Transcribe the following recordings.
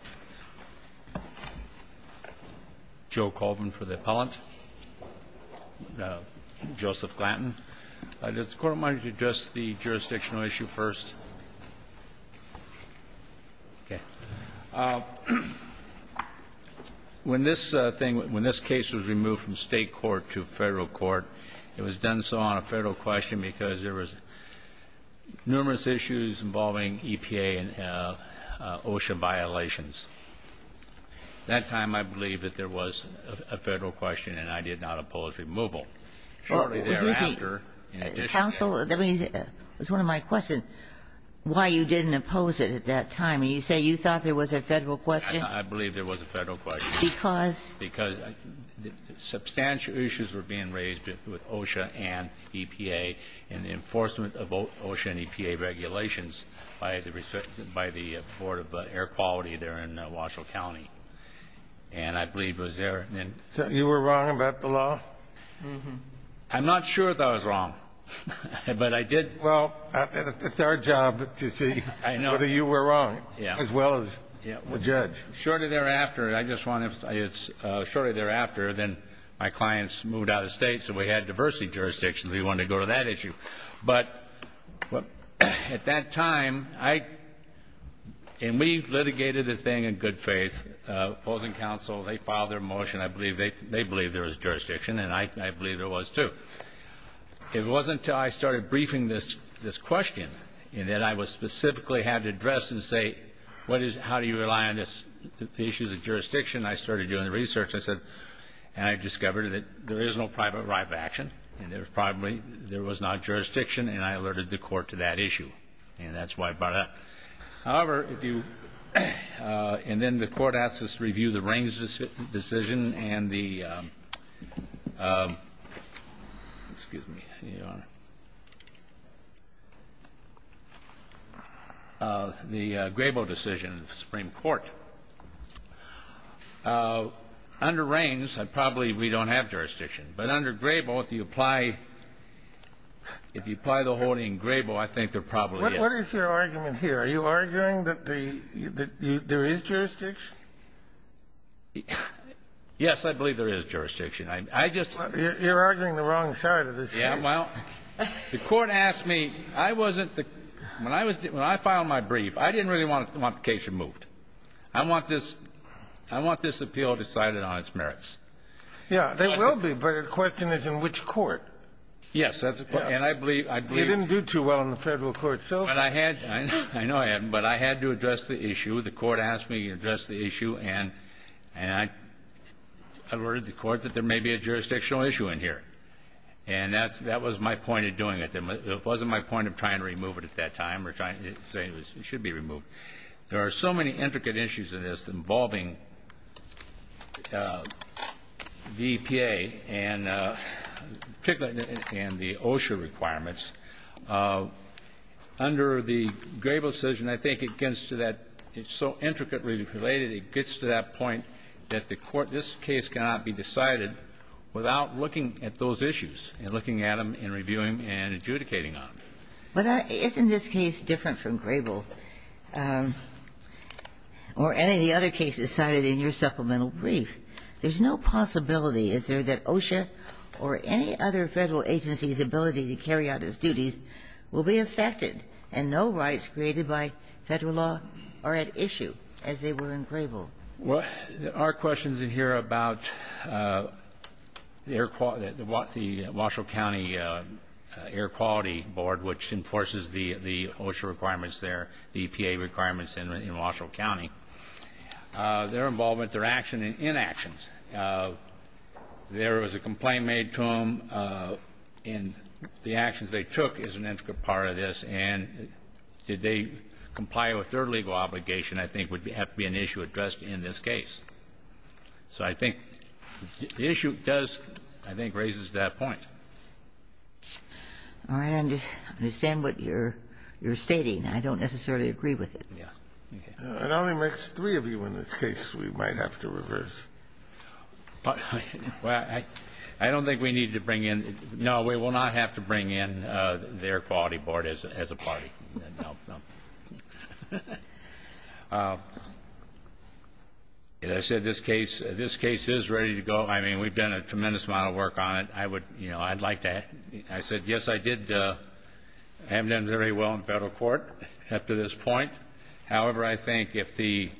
This case was removed from state court to federal court. It was done so on a federal question because there was numerous issues involving EPA and OSHA violations. At that time, I believe that there was a federal question, and I did not oppose removal. Shortly thereafter, in addition to that ---- Counsel, that was one of my questions, why you didn't oppose it at that time. You say you thought there was a federal question? I believe there was a federal question. Because? Because substantial issues were being raised with OSHA and EPA and the enforcement of OSHA and EPA regulations by the Board of Air Quality there in Washoe County. And I believe it was there. So you were wrong about the law? I'm not sure that I was wrong, but I did ---- Well, it's our job to see whether you were wrong as well as the judge. Shortly thereafter, I just want to say it's shortly thereafter, then my clients moved out of state, so we had diversity jurisdictions. We wanted to go to that issue. But at that time, I ---- and we litigated the thing in good faith. Both counsel, they filed their motion. I believe they believed there was jurisdiction, and I believe there was, too. It wasn't until I started briefing this question that I specifically had to address this and say, what is ---- how do you rely on this? The issue is the jurisdiction. I started doing the research. I said ---- and I discovered that there is no private right of action, and there was probably ---- there was not jurisdiction, and I alerted the Court to that issue. And that's why I brought it up. However, if you ---- and then the Court asked us to review the Rings decision and the excuse me, here you are, the Grabo decision of the Supreme Court. Under Rings, I probably ---- we don't have jurisdiction. But under Grabo, if you apply the holding Grabo, I think there probably is. What is your argument here? Are you arguing that there is jurisdiction? Yes, I believe there is jurisdiction. I just ---- You're arguing the wrong side of this case. Yeah. Well, the Court asked me. I wasn't the ---- when I was ---- when I filed my brief, I didn't really want the case removed. I want this ---- I want this appeal decided on its merits. Yeah. There will be, but the question is in which court. Yes. And I believe ---- You didn't do too well in the Federal court, so ---- But I had ---- I know I haven't, but I had to address the issue. The Court asked me to address the issue, and I alerted the Court that there may be a jurisdictional issue in here. And that's ---- that was my point of doing it. It wasn't my point of trying to remove it at that time or trying to say it should be removed. There are so many intricate issues in this involving the EPA and particularly in the OSHA requirements. Under the Grable decision, I think it gets to that ---- it's so intricately related, it gets to that point that the Court ---- this case cannot be decided without looking at those issues and looking at them and reviewing and adjudicating on them. But isn't this case different from Grable or any of the other cases cited in your supplemental brief? There's no possibility, is there, that OSHA or any other Federal agency's ability to carry out its duties will be affected, and no rights created by Federal law are at issue as they were in Grable? Well, there are questions in here about the Air Quality ---- the Washoe County Air Quality Board, which enforces the OSHA requirements there, the EPA requirements in Washoe County. Their involvement, their action and inactions. There was a complaint made to them, and the actions they took is an intricate part of this, and did they comply with their legal obligation I think would have to be an issue addressed in this case. So I think the issue does, I think, raises that point. I understand what you're stating. I don't necessarily agree with it. Yeah. It only makes three of you in this case we might have to reverse. Well, I don't think we need to bring in ---- no, we will not have to bring in the Air Quality Board as a party. No, no. As I said, this case, this case is ready to go. I mean, we've done a tremendous amount of work on it. I would, you know, I'd like to have ---- I said, yes, I did. I haven't done very well in Federal court up to this point. However, I think if the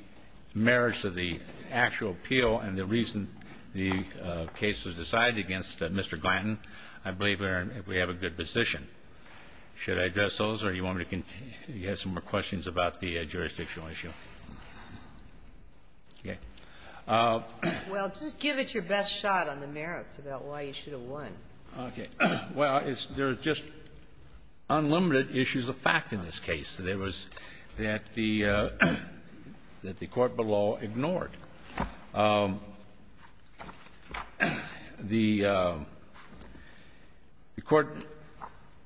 merits of the actual appeal and the reason the case was decided against Mr. Glanton, I believe we have a good position. Should I address those, or do you want me to continue? You have some more questions about the jurisdictional issue. Okay. Well, just give it your best shot on the merits about why you should have won. Okay. Well, there are just unlimited issues of fact in this case. There was that the court below ignored. The court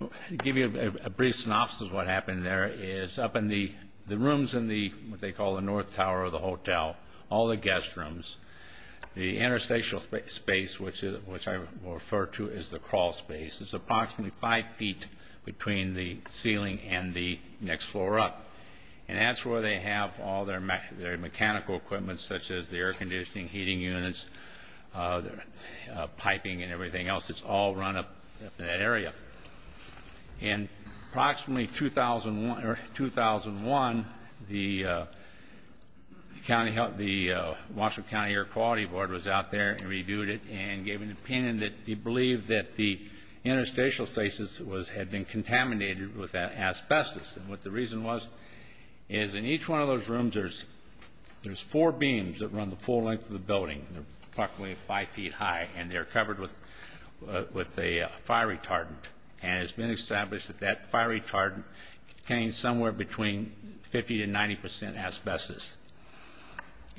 ---- to give you a brief synopsis of what happened there is up in the rooms in the what they call the north tower of the hotel, all the guest rooms, the interstitial space, which I refer to as the crawl space, is approximately 5 feet between the ceiling and the next floor up. And that's where they have all their mechanical equipment, such as the air conditioning, heating units, piping and everything else. It's all run up in that area. In approximately 2001, the county ---- the Washington County Air Quality Board was out there and reviewed it and gave an opinion that they believed that the interstitial spaces had been contaminated with asbestos. And what the reason was is in each one of those rooms there's four beams that run the full length of the building. They're approximately 5 feet high, and they're covered with a fire retardant. And it's been established that that fire retardant contains somewhere between 50% to 90% asbestos.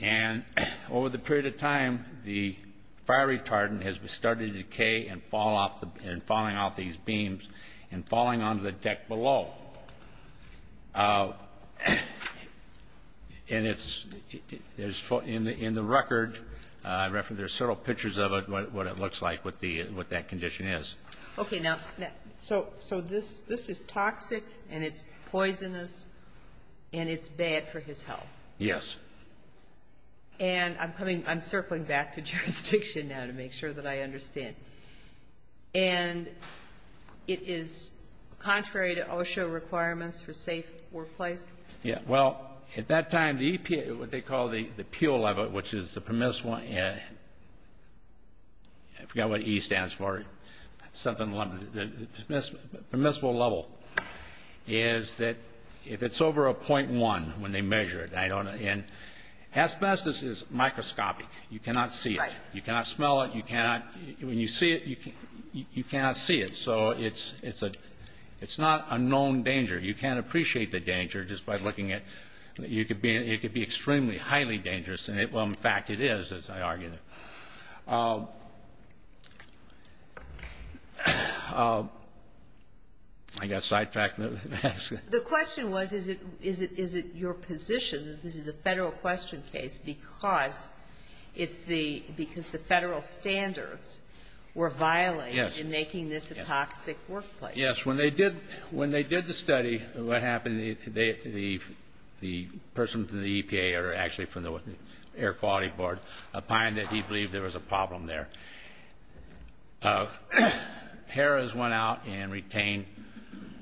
And over the period of time, the fire retardant has started to decay and fall off the ---- and falling onto the deck below. And it's ---- in the record, there's several pictures of it, what it looks like, what that condition is. Okay. Now, so this is toxic and it's poisonous and it's bad for his health. Yes. And I'm circling back to jurisdiction now to make sure that I understand. And it is contrary to OSHA requirements for safe workplace? Yeah. Well, at that time, the EPA, what they call the PULE level, which is the permissible ---- I forgot what E stands for. It's something limited. The permissible level is that if it's over a .1 when they measure it, I don't know. And asbestos is microscopic. You cannot see it. Right. You cannot smell it. You cannot ---- when you see it, you cannot see it. So it's not a known danger. You can't appreciate the danger just by looking at it. It could be extremely, highly dangerous. Well, in fact, it is, as I argued. I got sidetracked. The question was, is it your position that this is a Federal question case because it's the Federal standards were violated in making this a toxic workplace? Yes. When they did the study, what happened, the person from the EPA or actually from the Air Quality Board opined that he believed there was a problem there. HERA's went out and retained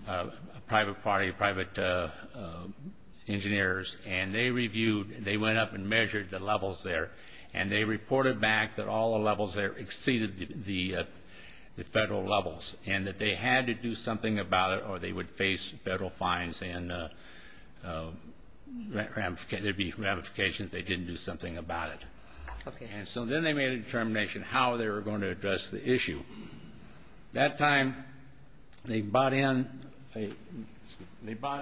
a private party, private engineers, and they reviewed and they went up and measured the levels there. And they reported back that all the levels there exceeded the Federal levels and that they had to do something about it or they would face Federal fines and there would be ramifications they didn't do something about it. Okay. And so then they made a determination how they were going to address the issue. That time they brought in a report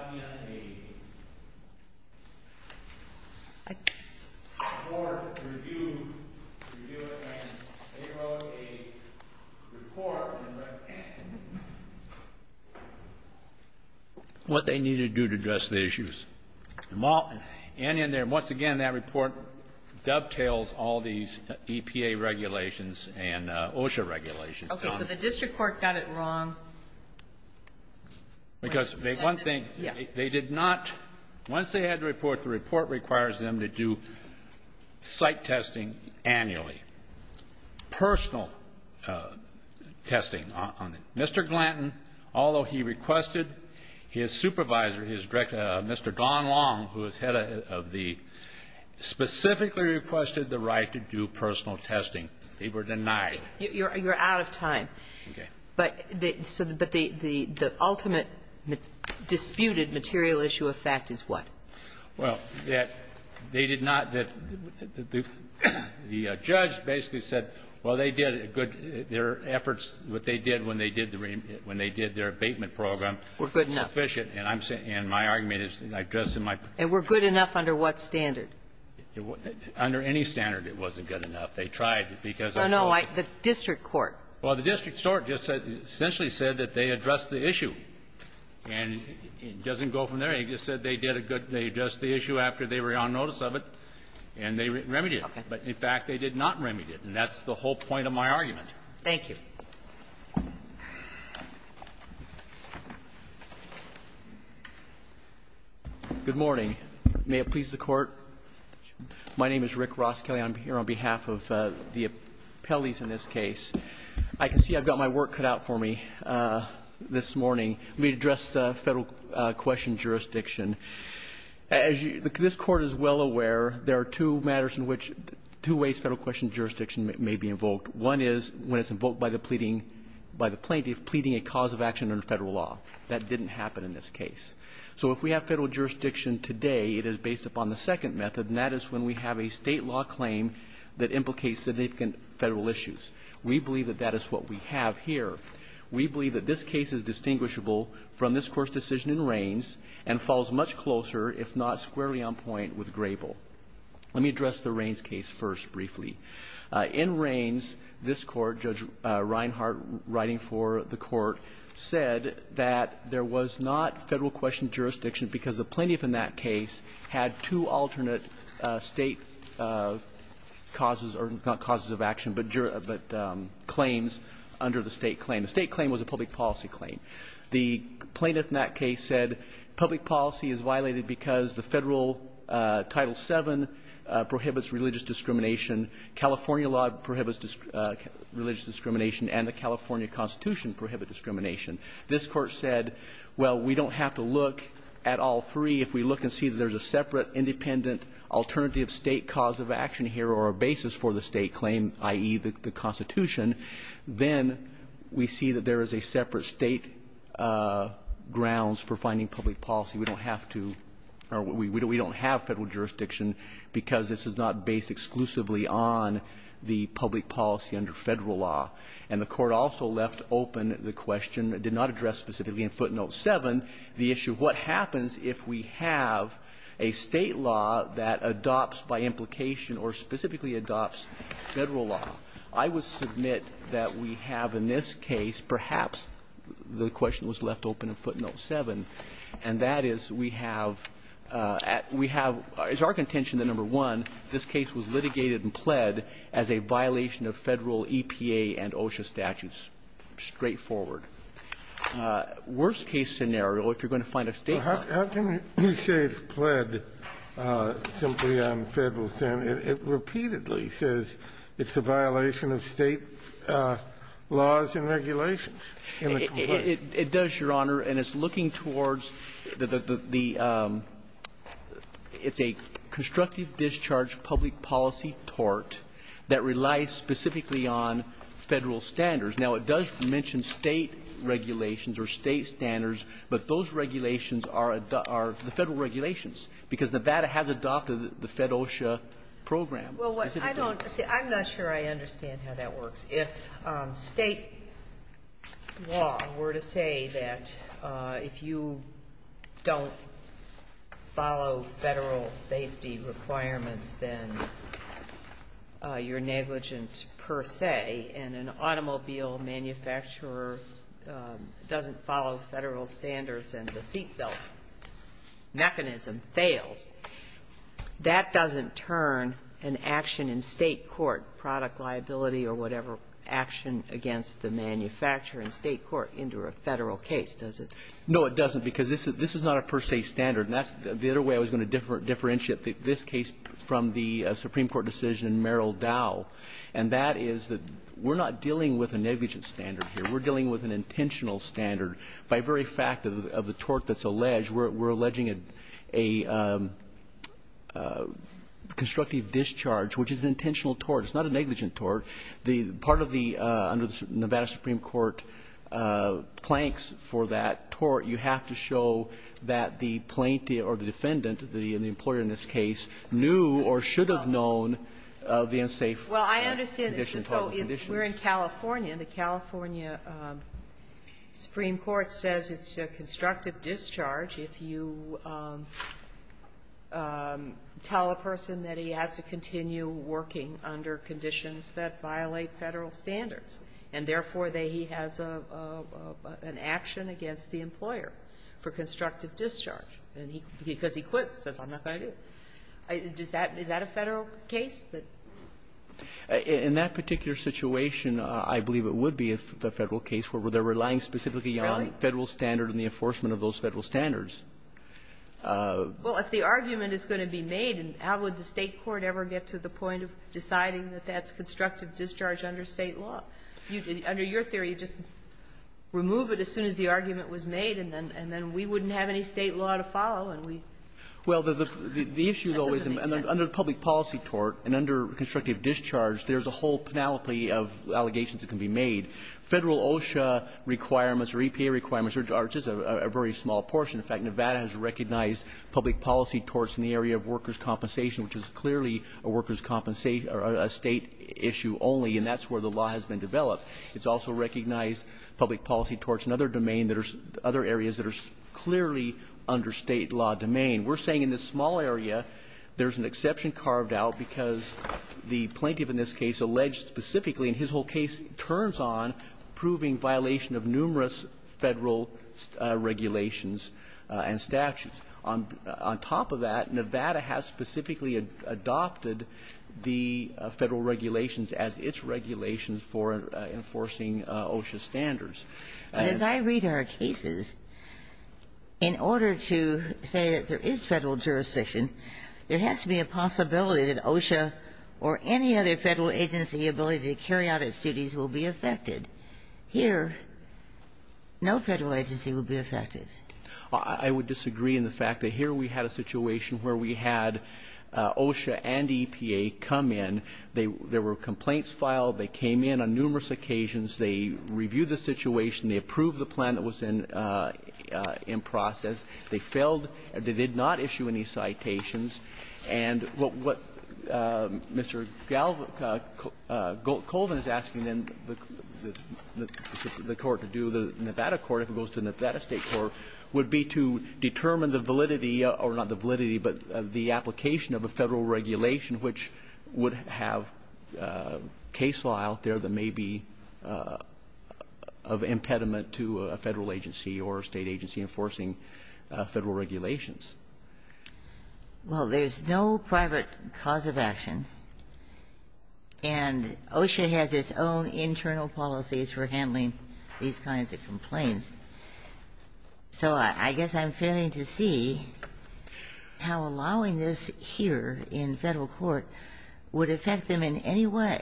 review and they wrote a report what they needed to do to address the issues. And in there, once again, that report dovetails all these EPA regulations and OSHA regulations. Okay. So the district court got it wrong. Because one thing, they did not, once they had the report, the report requires them to do site testing annually, personal testing. Mr. Glanton, although he requested, his supervisor, his director, Mr. Don Long, who is head of the, specifically requested the right to do personal testing. They were denied. You're out of time. Okay. But the ultimate disputed material issue of fact is what? Well, that they did not, that the judge basically said, well, they did a good, their efforts, what they did when they did their abatement program were sufficient. We're good enough. And I'm saying, and my argument is, I addressed in my presentation. And we're good enough under what standard? Under any standard it wasn't good enough. They tried because of the law. Oh, no. The district court. Well, the district court just said, essentially said that they addressed the issue. And it doesn't go from there. It just said they did a good, they addressed the issue after they were on notice of it, and they remedied it. Okay. But, in fact, they did not remedy it. And that's the whole point of my argument. Thank you. Good morning. May it please the Court. My name is Rick Ross Kelly. I'm here on behalf of the appellees in this case. I can see I've got my work cut out for me this morning. Let me address the Federal question jurisdiction. As this Court is well aware, there are two matters in which two ways Federal question jurisdiction may be invoked. One is when it's invoked by the pleading, by the plaintiff pleading a cause of action under Federal law. That didn't happen in this case. So if we have Federal jurisdiction today, it is based upon the second method, and that is when we have a State law claim that implicates significant Federal issues. We believe that that is what we have here. We believe that this case is distinguishable from this Court's decision in Rains and falls much closer, if not squarely on point, with Grable. Let me address the Rains case first briefly. In Rains, this Court, Judge Reinhart writing for the Court, said that there was not Federal question jurisdiction because the plaintiff in that case had two alternate State causes, or not causes of action, but claims under the State claim. The State claim was a public policy claim. The plaintiff in that case said public policy is violated because the Federal Title VII prohibits religious discrimination, California law prohibits religious discrimination, and the California Constitution prohibits discrimination. This Court said, well, we don't have to look at all three. If we look and see that there's a separate independent alternative State cause of action here or a basis for the State claim, i.e., the Constitution, then we see that there is a separate State grounds for finding public policy. We don't have to or we don't have Federal jurisdiction because this is not based exclusively on the public policy under Federal law. And the Court also left open the question, it did not address specifically in footnote 7, the issue of what happens if we have a State law that adopts by implication or specifically adopts Federal law. I would submit that we have in this case perhaps the question was left open in footnote 7, and that is we have at we have, it's our contention that, number one, this case was litigated and pled as a violation of Federal EPA and OSHA statutes. Straightforward. Worst-case scenario, if you're going to find a State law. Kennedy, how can you say it's pled simply on Federal stand? It repeatedly says it's a violation of State laws and regulations. It does, Your Honor, and it's looking towards the, it's a constructive discharge public policy tort that relies specifically on Federal standards. Now, it does mention State regulations or State standards, but those regulations are the Federal regulations because Nevada has adopted the Fed OSHA program. Well, what I don't see, I'm not sure I understand how that works. If State law were to say that if you don't follow Federal safety requirements, then you're negligent per se, and an automobile manufacturer doesn't follow Federal standards and the seat belt mechanism fails, that doesn't turn an action in State court, product liability or whatever, action against the manufacturer in State court into a Federal case, does it? No, it doesn't, because this is not a per se standard. And that's the other way I was going to differentiate this case from the Supreme Court decision in Merrill Dow. And that is that we're not dealing with a negligent standard here. We're dealing with an intentional standard. By very fact of the tort that's alleged, we're alleging a constructive discharge, which is an intentional tort. It's not a negligent tort. The part of the Nevada Supreme Court planks for that tort, you have to show that the plaintiff or the defendant, the employer in this case, knew or should have known the unsafe conditions. Sotomayor, so if we're in California, and the California Supreme Court says it's a constructive discharge if you tell a person that he has to continue working under conditions that violate Federal standards, and, therefore, that he has an action against the employer for constructive discharge, and because he quits, says, I'm not going to do it, is that a Federal case? In that particular situation, I believe it would be a Federal case where they're relying specifically on Federal standard and the enforcement of those Federal standards. Well, if the argument is going to be made, how would the State court ever get to the point of deciding that that's constructive discharge under State law? Under your theory, just remove it as soon as the argument was made, and then we wouldn't Well, the issue, though, is under the public policy tort and under constructive discharge, there's a whole panoply of allegations that can be made. Federal OSHA requirements or EPA requirements are just a very small portion. In fact, Nevada has recognized public policy torts in the area of workers' compensation, which is clearly a workers' compensation or a State issue only, and that's where the law has been developed. It's also recognized public policy torts in other domain that are other areas that are clearly under State law domain. We're saying in this small area, there's an exception carved out because the plaintiff in this case alleged specifically, and his whole case turns on, proving violation of numerous Federal regulations and statutes. On top of that, Nevada has specifically adopted the Federal regulations as its regulations for enforcing OSHA standards. And as I read our cases, in order to say that there is Federal jurisdiction, there has to be a possibility that OSHA or any other Federal agency ability to carry out its duties will be affected. Here, no Federal agency will be affected. I would disagree in the fact that here we had a situation where we had OSHA and EPA come in, there were complaints filed, they came in on numerous occasions, they reviewed the situation, they approved the plan that was in process. They failed. They did not issue any citations. And what Mr. Goldman is asking then the court to do, the Nevada court, if it goes to Nevada State court, would be to determine the validity, or not the validity, but the application of a Federal regulation which would have case law out there that may be of impediment to a Federal agency or a State agency enforcing Federal regulations. Well, there's no private cause of action, and OSHA has its own internal policies for handling these kinds of complaints. So I guess I'm failing to see how allowing this here in Federal court would affect them in any way.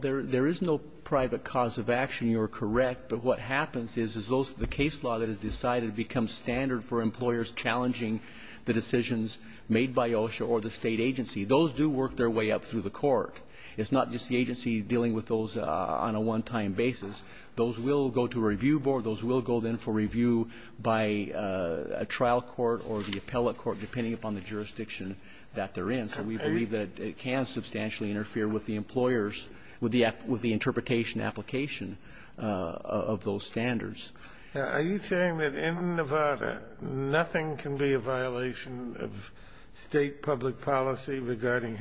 There is no private cause of action. You are correct. But what happens is, is those, the case law that is decided becomes standard for employers challenging the decisions made by OSHA or the State agency. Those do work their way up through the court. It's not just the agency dealing with those on a one-time basis. Those will go to a review board. Those will go then for review by a trial court or the appellate court, depending upon the jurisdiction that they're in. So we believe that it can substantially interfere with the employers, with the interpretation application of those standards. Are you saying that in Nevada nothing can be a violation of State public policy regarding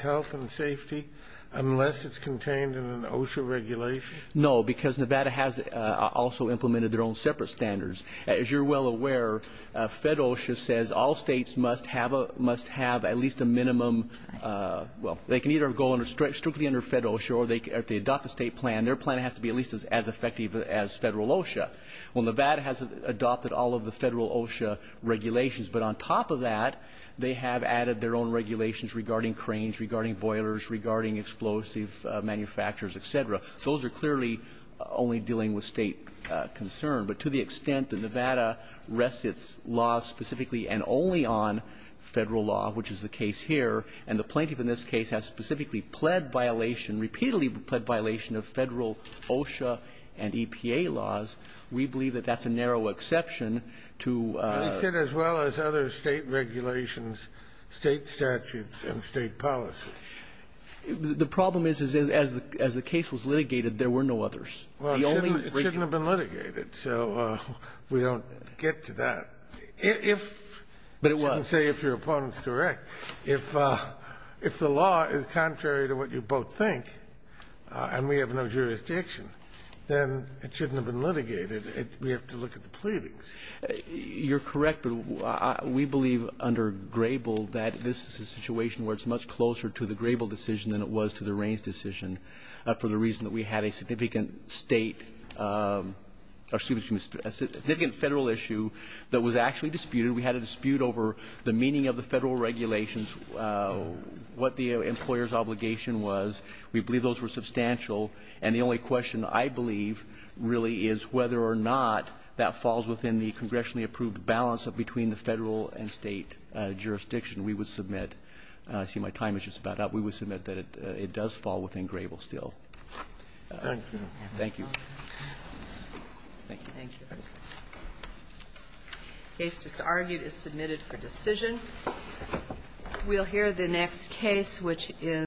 health and safety unless it's contained in an OSHA regulation? No, because Nevada has also implemented their own separate standards. As you're well aware, Federal OSHA says all States must have at least a minimum, well, they can either go strictly under Federal OSHA or they adopt a State plan. Their plan has to be at least as effective as Federal OSHA. Well, Nevada has adopted all of the Federal OSHA regulations. But on top of that, they have added their own regulations regarding cranes, regarding boilers, regarding explosive manufacturers, et cetera. So those are clearly only dealing with State concern. But to the extent that Nevada rests its laws specifically and only on Federal law, which is the case here, and the plaintiff in this case has specifically pled violation, repeatedly pled violation of Federal OSHA and EPA laws, we believe that that's a narrow exception to the State regulations, State statutes, and State policies. The problem is, is as the case was litigated, there were no others. The only region that was litigated. Well, it shouldn't have been litigated, so we don't get to that. But it was. I shouldn't say if your opponent's correct. If the law is contrary to what you both think and we have no jurisdiction, then it shouldn't have been litigated. We have to look at the pleadings. You're correct, but we believe under Grable that this is a situation where it's much closer to the Grable decision than it was to the Raines decision for the reason that we had a significant State or, excuse me, a significant Federal issue that was actually disputed. We had a dispute over the meaning of the Federal regulations, what the employer's obligation was. We believe those were substantial. And the only question I believe really is whether or not that falls within the congressionally approved balance between the Federal and State jurisdiction. We would submit – see, my time is just about up. We would submit that it does fall within Grable still. Thank you. Thank you. Thank you. The case just argued is submitted for decision. We'll hear the next case, which is